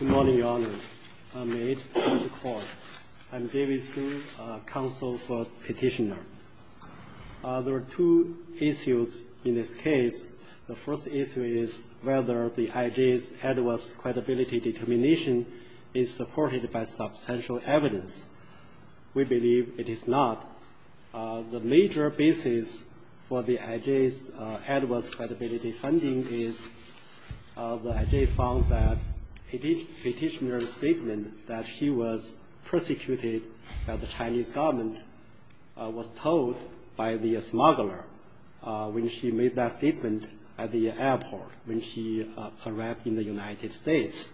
There are two issues in this case. The first issue is whether the IJ's adverse credibility determination is supported by substantial evidence. We believe it is not. The major basis for the IJ's adverse credibility finding is the IJ found that a petitioner's statement that she was persecuted by the Chinese government was told by the smuggler when she made that statement at the airport when she arrived in the United States.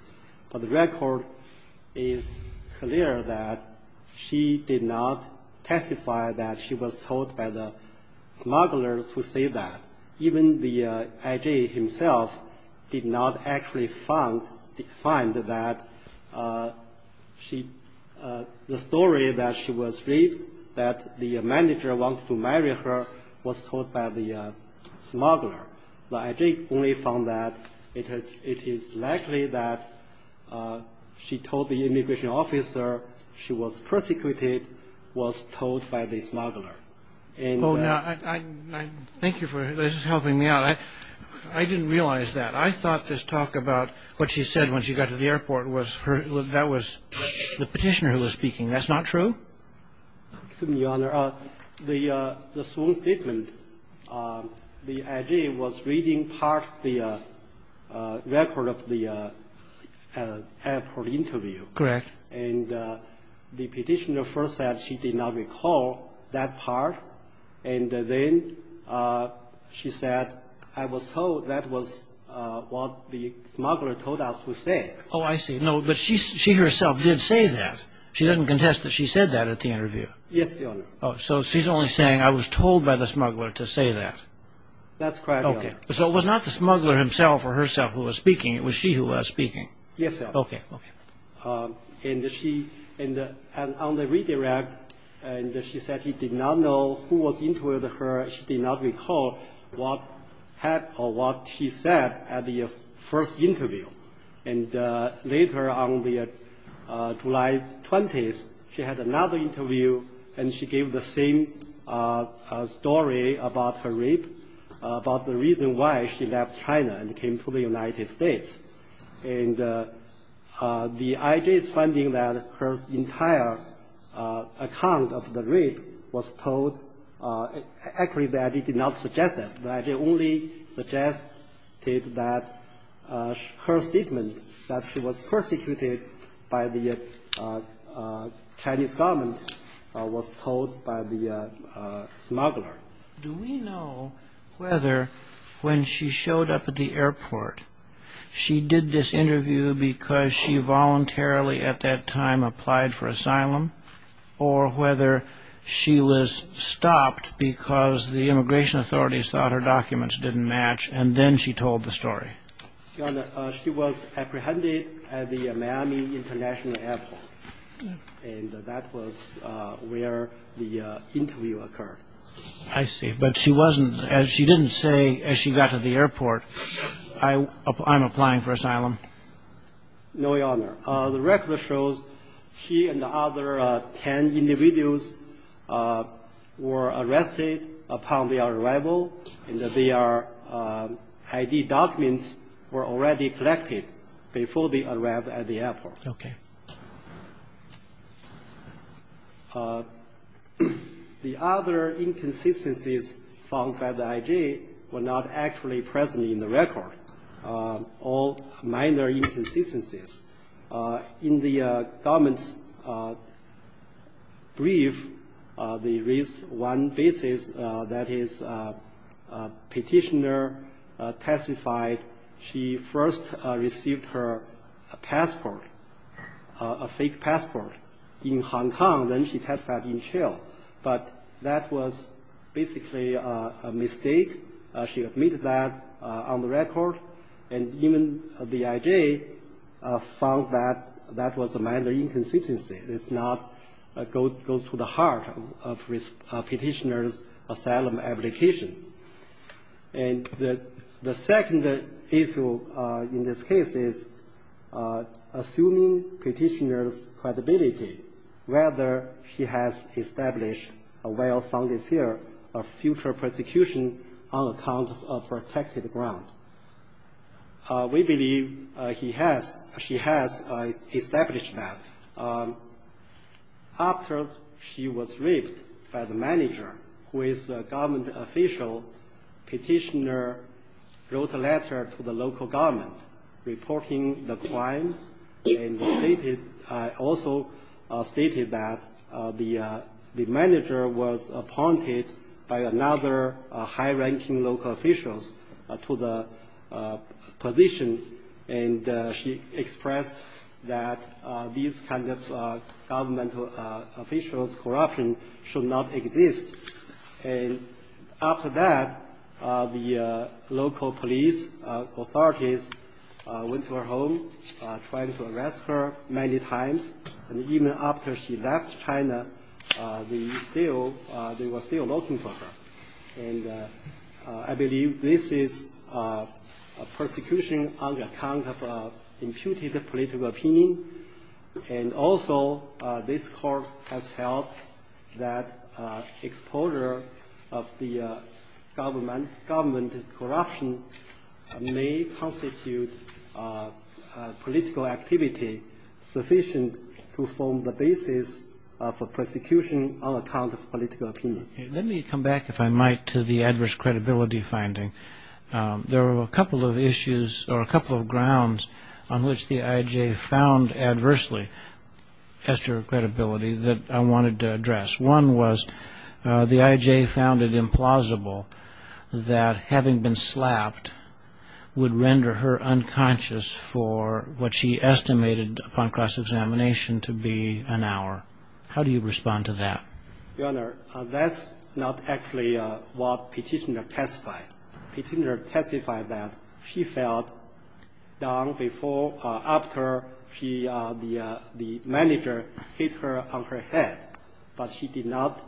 But the record is clear that she did not testify that she was told by the smugglers to say that. Even the IJ himself did not actually find that the story that she was read that the manager wanted to marry her was told by the smuggler. The IJ only found that it is likely that she told the immigration officer she was persecuted, was told by the smuggler. And the ---- Kennedy Oh, no. Thank you for helping me out. I didn't realize that. I thought this talk about what she said when she got to the airport was her ---- that was the petitioner who was speaking. That's not true? Xu Excuse me, Your Honor. The ---- statement, the IJ was reading part of the record of the airport interview. Kagan Correct. Xu And the petitioner first said she did not recall that part, and then she said I was told that was what the smuggler told us to say. Kennedy Oh, I see. No, but she herself did say that. She doesn't contest that she said that at the interview. Xu Yes, Your Honor. Kennedy Oh, so she's only saying I was told by the smuggler to say that. Xu That's correct, Your Honor. Kennedy Okay. So it was not the smuggler himself or herself who was speaking. It was she who was speaking. Xu Yes, Your Honor. Kennedy Okay. Okay. The IJ is finding that her entire account of the rape was told ---- actually, the IJ did not suggest that. The IJ only suggested that her statement that she was persecuted by the Chinese government was told by the smuggler. Do we know whether when she showed up at the airport, she did this interview because she voluntarily at that time applied for asylum, or whether she was stopped because the immigration authorities thought her documents didn't match, and then she told the story? Xu Your Honor, she was apprehended at the Miami International Airport, and that was where the interview occurred. Kennedy I see. But she wasn't ---- she didn't say as she got to the airport, I'm applying for asylum. Xu No, Your Honor. The record shows she and the other 10 individuals were arrested upon their arrival, and that their ID documents were already collected before they arrived at the airport. Kennedy Okay. Xu The other inconsistencies found by the IJ were not actually present in the record, all minor inconsistencies. In the government's brief, they raised one basis, that is, a petitioner testified she first received her passport, a fake passport, in Hong Kong, then she testified in jail. But that was basically a mistake. She admitted that on the record, and even the IJ found that that was a minor inconsistency. It does not go to the heart of a petitioner's asylum application. And the second issue in this case is assuming petitioner's credibility, whether she has established a well-founded theory of future prosecution on account of protected ground. We believe she has established that. After she was raped by the manager, who is a government official, petitioner wrote a letter to the local government reporting the crime, and also stated that the manager was appointed by another high-ranking local official to the position, and she expressed that these kinds of government officials' corruption should not exist. And after that, the local police authorities went to her home, tried to arrest her many times, and even after she left China, they were still looking for her. And I believe this is a prosecution on account of imputed political opinion. And also, this Court has held that exposure of the government corruption may constitute political activity sufficient to form the basis of a prosecution on account of political opinion. Let me come back, if I might, to the adverse credibility finding. There were a couple of issues or a couple of grounds on which the IJ found adversely Esther's credibility that I wanted to address. One was the IJ found it implausible that having been slapped would render her unconscious for what she estimated upon cross-examination to be an hour. How do you respond to that? Your Honor, that's not actually what petitioner testified. Petitioner testified that she felt down before or after the manager hit her on her head, but she did not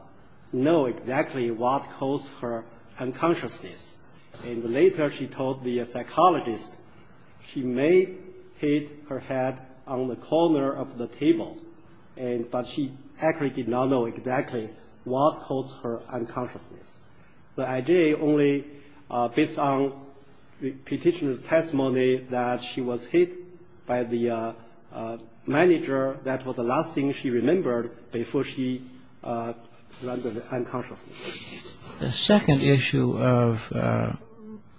know exactly what caused her unconsciousness. And later she told the psychologist she may hit her head on the corner of the table, but she actually did not know exactly what caused her unconsciousness. The IJ only, based on the petitioner's testimony, that she was hit by the manager, that was the last thing she remembered before she rendered unconsciousness. The second issue of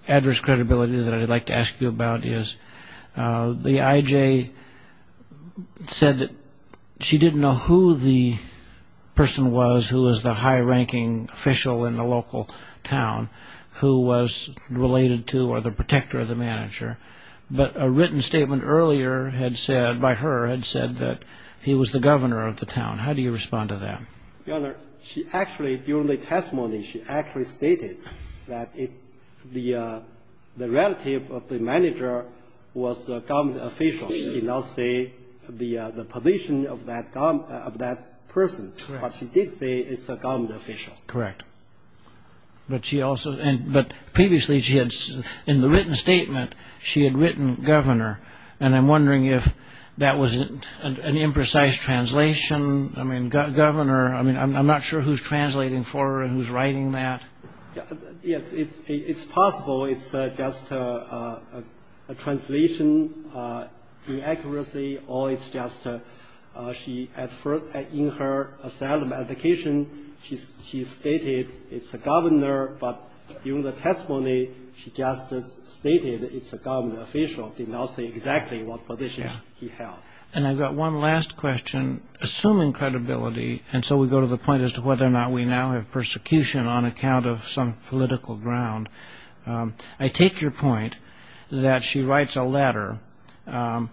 adverse credibility that I'd like to ask you about is the IJ said that she didn't know who the person was who was the high-ranking official in the local town who was related to or the protector of the manager, but a written statement earlier had said, by her, had said that he was the governor of the town. How do you respond to that? Your Honor, she actually, during the testimony, she actually stated that the relative of the manager was a government official. She did not say the position of that person, but she did say it's a government official. Correct. But previously, in the written statement, she had written governor, and I'm wondering if that was an imprecise translation. I mean, governor, I'm not sure who's translating for her and who's writing that. Yes, it's possible it's just a translation inaccuracy, or it's just she, in her asylum application, she stated it's a governor, but during the testimony, she just stated it's a government official, did not say exactly what position he held. And I've got one last question, assuming credibility, and so we go to the point as to whether or not we now have persecution on account of some political ground. I take your point that she writes a letter that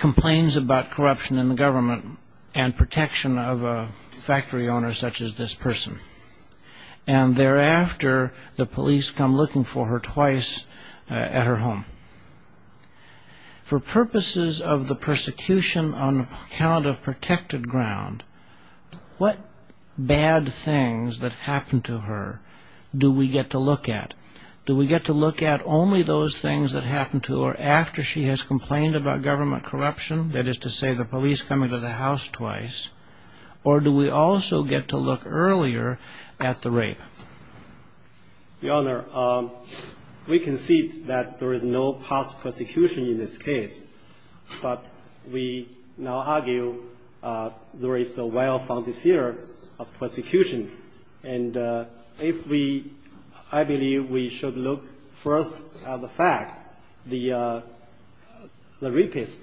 complains about corruption in the government and protection of a factory owner such as this person, and thereafter, the police come looking for her twice at her home. For purposes of the persecution on account of protected ground, what bad things that happen to her do we get to look at? Do we get to look at only those things that happen to her after she has complained about government corruption, that is to say the police coming to the house twice, or do we also get to look earlier at the rape? Your Honor, we concede that there is no past persecution in this case, but we now argue there is a well-founded fear of persecution. And if we, I believe we should look first at the fact the rapist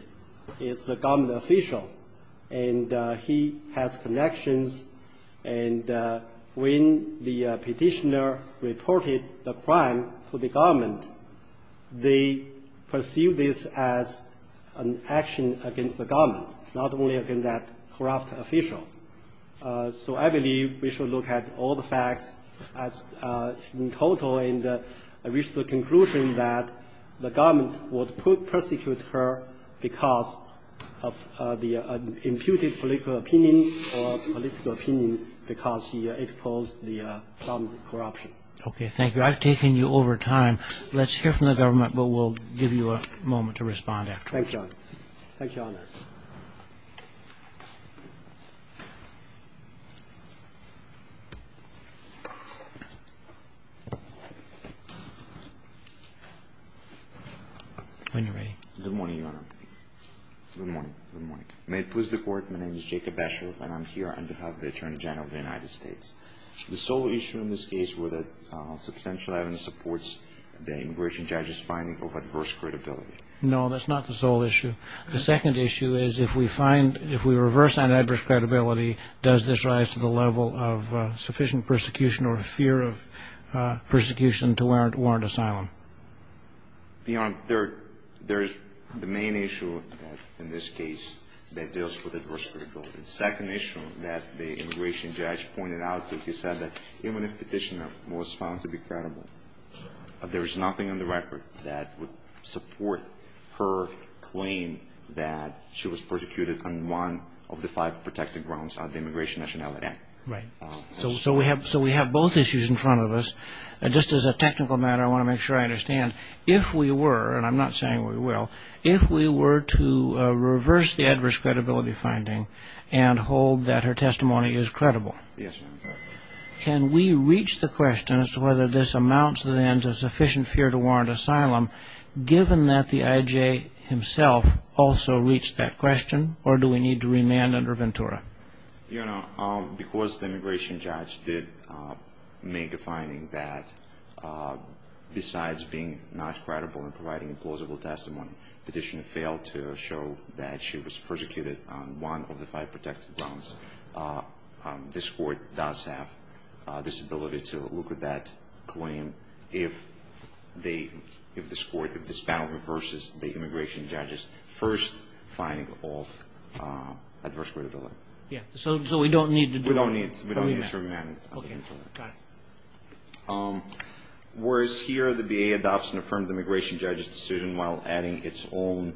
is a government official, and he has connections, and when the petitioner reported the crime to the government, they perceive this as an action against the government, not only against that corrupt official. So I believe we should look at all the facts in total and reach the conclusion that the government would persecute her because of the imputed political opinion or political opinion because she exposed the government corruption. Okay, thank you. I've taken you over time. Let's hear from the government, but we'll give you a moment to respond afterwards. Thank you, Your Honor. Thank you, Your Honor. When you're ready. Good morning, Your Honor. Good morning. Good morning. May it please the Court, my name is Jacob Besheriff, and I'm here on behalf of the Attorney General of the United States. The sole issue in this case were that substantial evidence supports the immigration judge's finding of adverse credibility. No, that's not the sole issue. The second issue is if we find, if we reverse that adverse credibility, does this rise to the level of sufficient persecution or fear of persecution to warrant asylum? Your Honor, there is the main issue in this case that deals with adverse credibility. The second issue that the immigration judge pointed out is that he said that even if the petitioner was found to be credible, there is nothing on the record that would support her claim that she was persecuted on one of the five protected grounds of the Immigration Nationality Act. Right. So we have both issues in front of us. Just as a technical matter, I want to make sure I understand. If we were, and I'm not saying we will, if we were to reverse the adverse credibility finding and hold that her testimony is credible, Yes, Your Honor. can we reach the question as to whether this amounts then to sufficient fear to warrant asylum, given that the IJ himself also reached that question, or do we need to remand under Ventura? Your Honor, because the immigration judge did make a finding that besides being not credible and providing implausible testimony, the petitioner failed to show that she was persecuted on one of the five protected grounds, this Court does have this ability to look at that claim if this panel reverses the immigration judge's first finding of adverse credibility. Yes, so we don't need to do a remand. We don't need to remand under Ventura. Okay, got it. Whereas here the BA adopts and affirms the immigration judge's decision while adding its own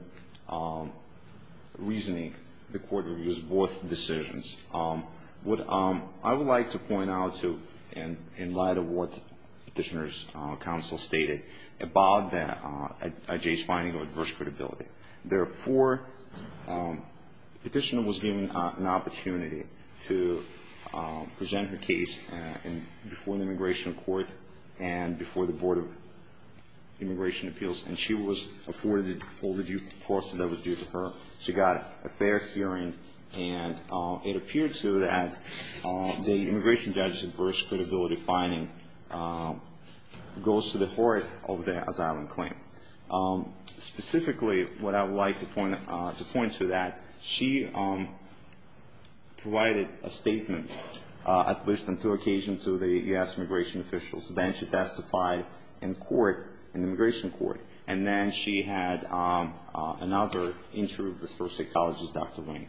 reasoning, the Court reviews both decisions. I would like to point out, in light of what the petitioner's counsel stated, about the IJ's finding of adverse credibility. Therefore, the petitioner was given an opportunity to present her case before the Immigration Court and before the Board of Immigration Appeals, and she was afforded all the due process that was due to her. She got a fair hearing, and it appeared to that the immigration judge's adverse credibility finding goes to the heart of the asylum claim. Specifically, what I would like to point to that, she provided a statement, at least on two occasions, to the U.S. immigration officials. Then she testified in court, in the Immigration Court, and then she had another interview with her psychologist, Dr. Wing.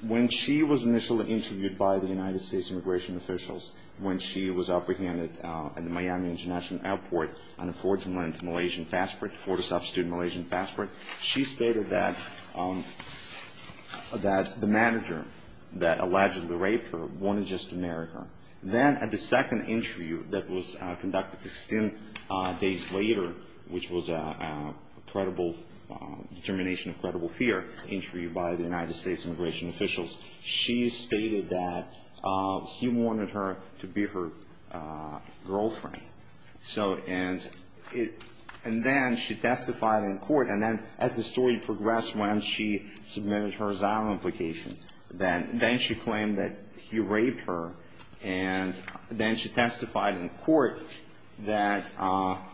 When she was initially interviewed by the United States immigration officials, when she was apprehended at the Miami International Airport on a forged and lent to Malaysian passport, a forged and substituted Malaysian passport, she stated that the manager that allegedly raped her wanted just to marry her. Then at the second interview that was conducted 16 days later, which was a credible determination, a credible fear interview by the United States immigration officials, she stated that he wanted her to be her girlfriend. And then she testified in court, and then as the story progressed, when she submitted her asylum application, then she claimed that he raped her, and then she testified in court that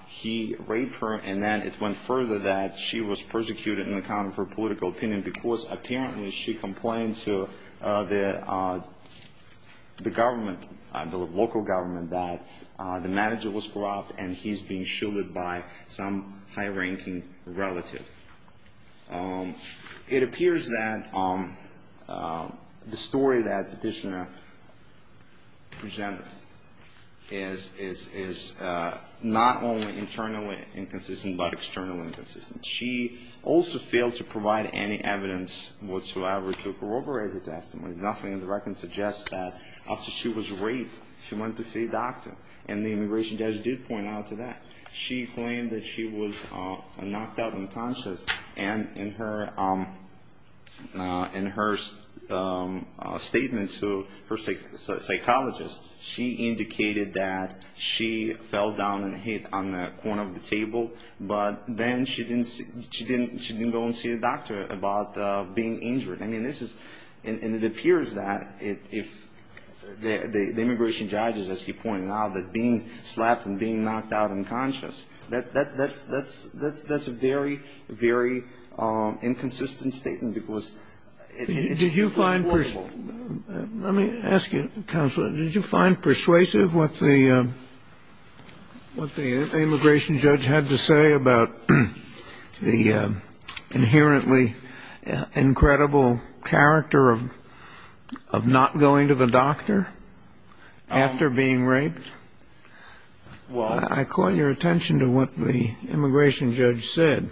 he raped her, and then it went further that she was persecuted on account of her political opinion, because apparently she complained to the government, the local government, that the manager was corrupt, and he's being shielded by some high-ranking relative. It appears that the story that the petitioner presented is not only internally inconsistent, but externally inconsistent. She also failed to provide any evidence whatsoever to corroborate her testimony. Nothing in the record suggests that after she was raped, she went to see a doctor, and the immigration judge did point out to that. She claimed that she was knocked out unconscious, and in her statement to her psychologist, she indicated that she fell down and hit on the corner of the table, but then she didn't go and see a doctor about being injured. I mean, this is ‑‑ and it appears that if the immigration judge, as you point out, that being slapped and being knocked out unconscious, that's a very, very inconsistent statement, because it's not reportable. Let me ask you, counsel, did you find persuasive what the immigration judge had to say about the inherently incredible character of not going to the doctor after being raped? I call your attention to what the immigration judge said.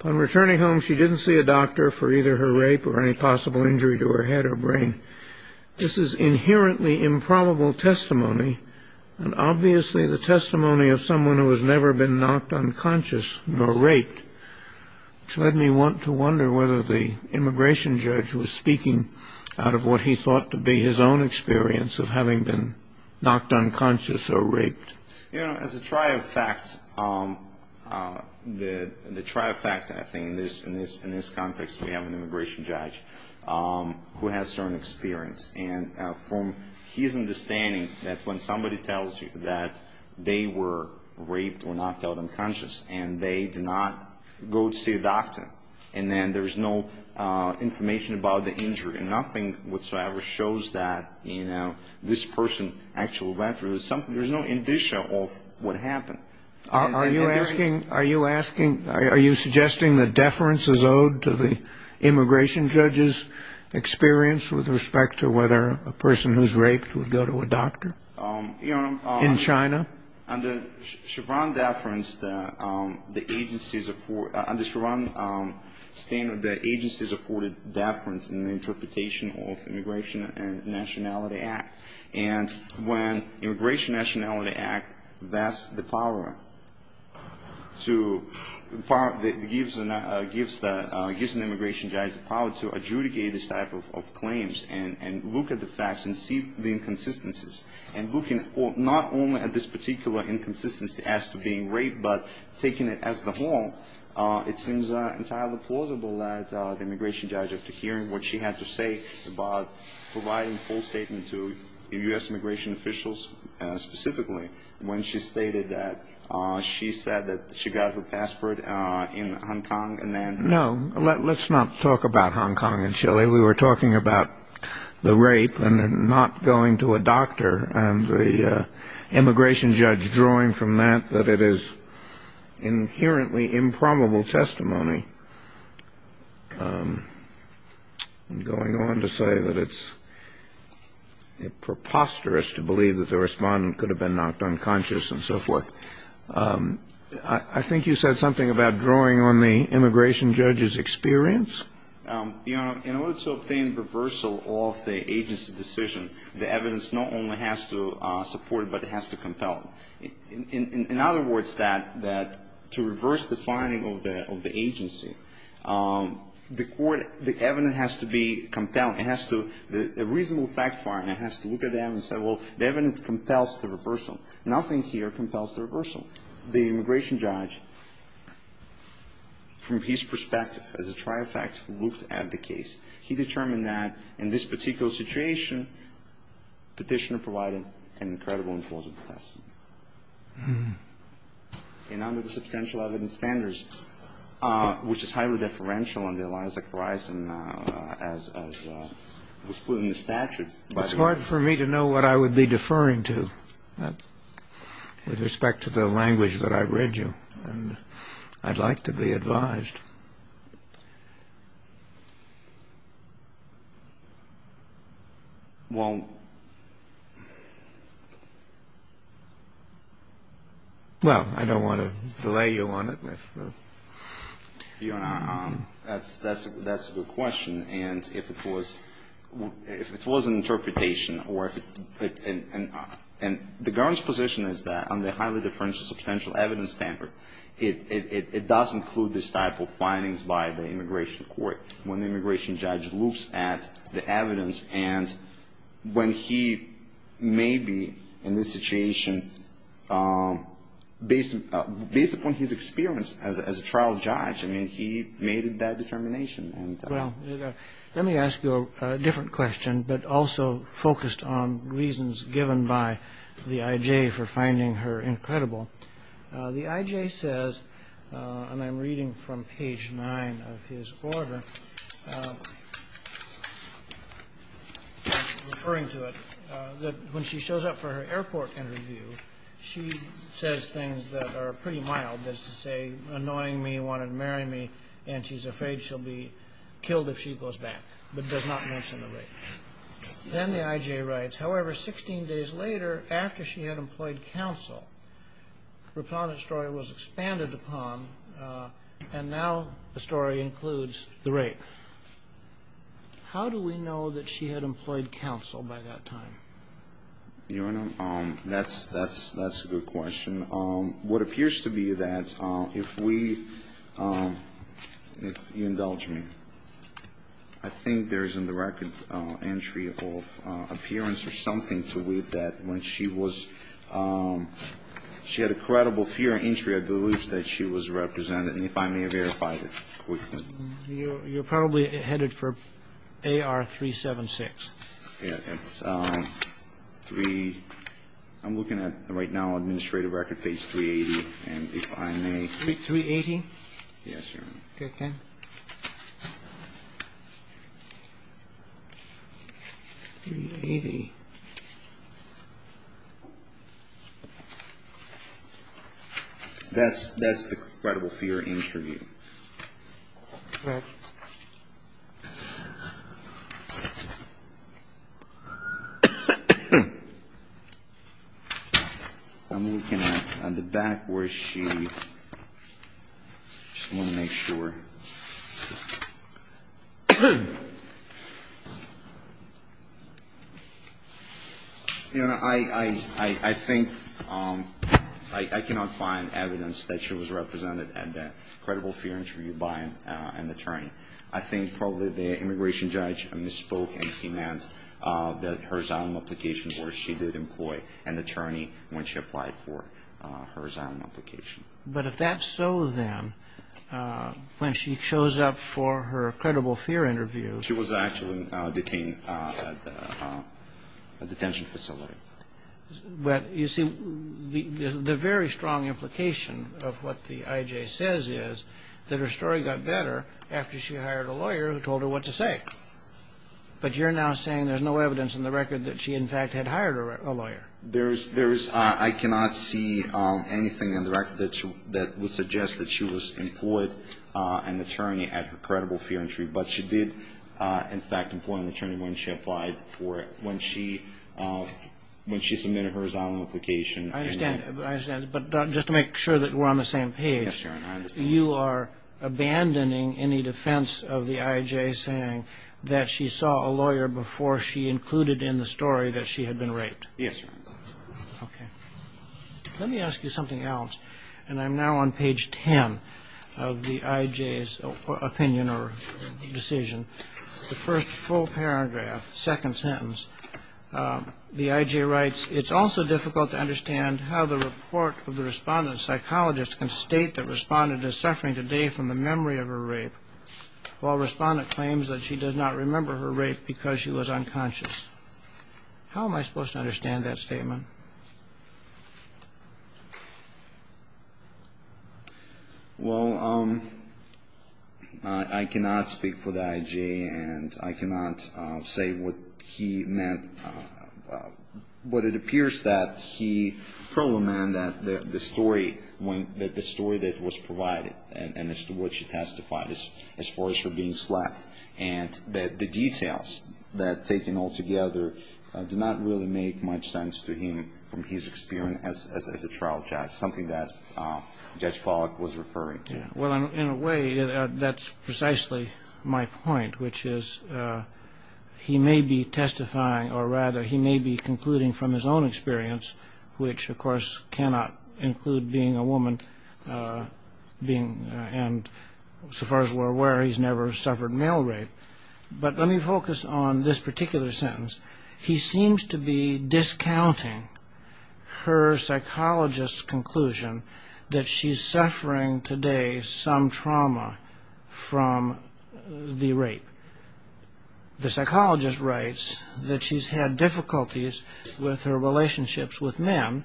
Upon returning home, she didn't see a doctor for either her rape or any possible injury to her head or brain. This is inherently improbable testimony, and obviously the testimony of someone who has never been knocked unconscious nor raped, which led me to wonder whether the immigration judge was speaking out of what he thought to be his own experience of having been knocked unconscious or raped. You know, as a trifecta, the trifecta, I think, in this context, we have an immigration judge who has certain experience, and from his understanding that when somebody tells you that they were raped or knocked out unconscious and they did not go to see a doctor, and then there's no information about the injury, nothing whatsoever shows that, you know, this person actually went through something. There's no indicia of what happened. Are you asking, are you suggesting that deference is owed to the immigration judge's experience with respect to whether a person who's raped would go to a doctor in China? Under Chevron deference, the agency's afforded deference in the interpretation of Immigration and Nationality Act. And when Immigration and Nationality Act vests the power to give an immigration judge the power to adjudicate this type of claims and look at the facts and see the inconsistencies, and looking not only at this particular inconsistency as to being raped, but taking it as the whole, it seems entirely plausible that the immigration judge, after hearing what she had to say about providing a full statement to U.S. immigration officials specifically, when she stated that she said that she got her passport in Hong Kong and then- No, let's not talk about Hong Kong and Chile. We were talking about the rape and not going to a doctor, and the immigration judge drawing from that that it is inherently improbable testimony, and going on to say that it's preposterous to believe that the respondent could have been knocked unconscious and so forth. I think you said something about drawing on the immigration judge's experience? Your Honor, in order to obtain reversal of the agency's decision, the evidence not only has to support it, but it has to compel it. In other words, that to reverse the finding of the agency, the court, the evidence has to be compelled. It has to, a reasonable fact finder has to look at them and say, well, the evidence compels the reversal. Nothing here compels the reversal. The immigration judge, from his perspective as a trifecta, looked at the case. He determined that in this particular situation, Petitioner provided an incredible and plausible testimony. And under the substantial evidence standards, which is highly deferential under the lines of crisis as was put in the statute- With respect to the language that I read you, I'd like to be advised. Well, I don't want to delay you on it. Your Honor, that's a good question. And if it was an interpretation, or if it, and the government's position is that on the highly deferential substantial evidence standard, it does include this type of findings by the immigration court. When the immigration judge looks at the evidence, and when he may be in this situation, based upon his experience, as a trial judge, I mean, he made that determination. Well, let me ask you a different question, but also focused on reasons given by the I.J. for finding her incredible. The I.J. says, and I'm reading from page 9 of his order, referring to it, that when she shows up for her airport interview, she says things that are pretty mild, that is to say, annoying me, wanted to marry me, and she's afraid she'll be killed if she goes back, but does not mention the rape. Then the I.J. writes, however, 16 days later, after she had employed counsel, Raponette's story was expanded upon, and now the story includes the rape. How do we know that she had employed counsel by that time? Your Honor, that's a good question. What appears to be that, if we, if you indulge me, I think there's a direct entry of appearance or something to it that when she was, she had a credible fear of injury, I believe that she was represented. And if I may verify it quickly. You're probably headed for AR 376. Yeah, it's 3, I'm looking at right now administrative record page 380, and if I may. 380? Yes, Your Honor. Okay. 380. That's the credible fear injury. Right. I'm looking at the back where she, just want to make sure. Your Honor, I think, I cannot find evidence that she was represented at that credible fear injury by an attorney. I think probably the immigration judge misspoke and demands that her asylum application or she did employ an attorney when she applied for her asylum application. But if that's so, then, when she shows up for her credible fear interview. She was actually detained at the detention facility. But, you see, the very strong implication of what the IJ says is that her story got better after she hired a lawyer who told her what to say. But you're now saying there's no evidence in the record that she, in fact, had hired a lawyer. There is. I cannot see anything in the record that would suggest that she was employed an attorney at her credible fear injury, but she did, in fact, employ an attorney when she applied for it. When she submitted her asylum application. I understand. But just to make sure that we're on the same page. Yes, Your Honor, I understand. You are abandoning any defense of the IJ saying that she saw a lawyer before she included in the story that she had been raped. Yes, Your Honor. Okay. Let me ask you something else. And I'm now on page 10 of the IJ's opinion or decision. The first full paragraph, second sentence, the IJ writes, It's also difficult to understand how the report of the respondent's psychologist can state that the respondent is suffering today from the memory of her rape, while the respondent claims that she does not remember her rape because she was unconscious. How am I supposed to understand that statement? Well, I cannot speak for the IJ, and I cannot say what he meant. But it appears that he probably meant that the story that was provided, and as to what she testified as far as her being slack, and that the details that are taken altogether do not really make much sense to him. So I'm not sure that the IJ can say that the respondent is suffering from the memory of her rape. I'm not sure that the IJ can say that the respondent is suffering from his experience as a trial judge, something that Judge Pollack was referring to. Well, in a way, that's precisely my point, which is he may be testifying, or rather he may be concluding from his own experience, which, of course, cannot include being a woman, and so far as we're aware, he's never suffered male rape. But let me focus on this particular sentence. He seems to be discounting her psychologist's conclusion that she's suffering today some trauma from the rape. The psychologist writes that she's had difficulties with her relationships with men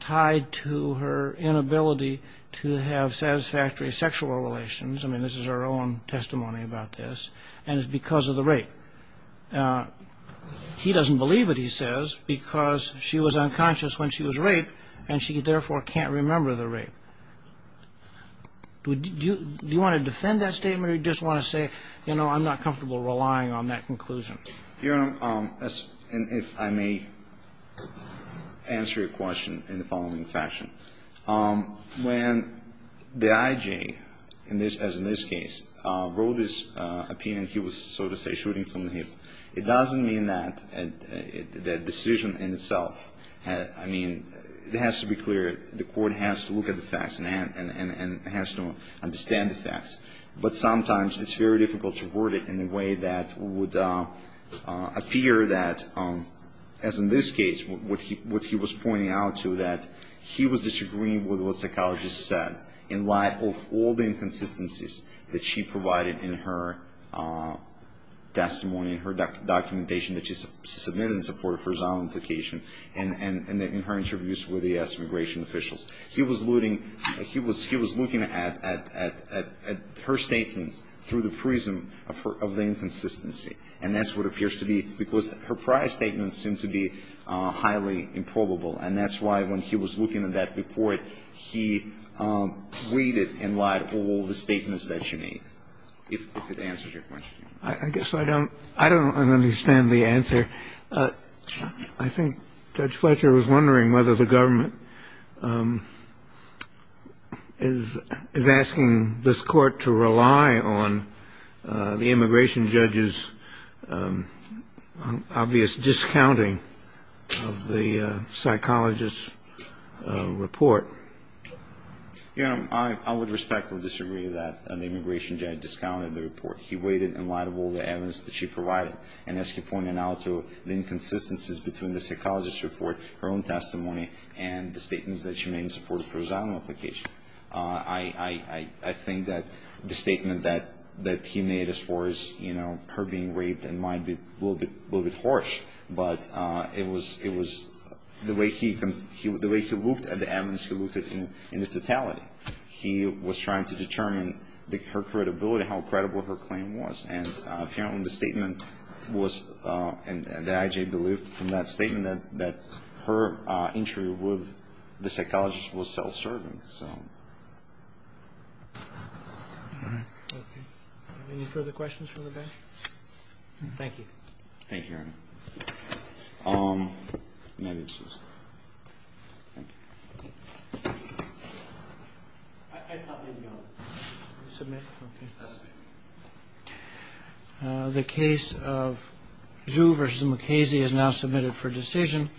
tied to her inability to have satisfactory sexual relations. I mean, this is her own testimony about this, and it's because of the rape. He doesn't believe it, he says, because she was unconscious when she was raped, and she therefore can't remember the rape. Do you want to defend that statement, or do you just want to say, you know, I'm not comfortable relying on that conclusion? Your Honor, if I may answer your question in the following fashion. When the IJ, as in this case, wrote his opinion, he was, so to say, shooting from the hip. It doesn't mean that the decision in itself, I mean, it has to be clear, the court has to look at the facts and has to understand the facts. But sometimes it's very difficult to word it in a way that would appear that, as in this case, what he was pointing out to that he was disagreeing with what the psychologist said in light of all the inconsistencies that she provided in her testimony, in her documentation that she submitted in support of her zonal implication, and in her interviews with the U.S. immigration officials. He was looting, he was looking at her statements through the prism of the inconsistency, and that's what appears to be, because her prior statements seem to be highly improbable, and that's why when he was looking at that report, he tweeted and lied all the statements that she made, if it answers your question. I guess I don't understand the answer. I think Judge Fletcher was wondering whether the government is asking this court to rely on the immigration judge's obvious discounting of the psychologist's report. Your Honor, I would respectfully disagree that the immigration judge discounted the report. He waited in light of all the evidence that she provided, and as he pointed out to the inconsistencies between the psychologist's report, her own testimony, and the statements that she made in support of her zonal implication. I think that the statement that he made as far as her being raped might be a little bit harsh, but it was the way he looked at the evidence, he looked at it in its totality. He was trying to determine her credibility, how credible her claim was, and apparently the statement was, and the I.J. believed from that statement, that her entry with the psychologist was self-serving, so. Any further questions from the bench? Thank you. Thank you, Your Honor. The case of Zhu v. Mukasey is now submitted for decision.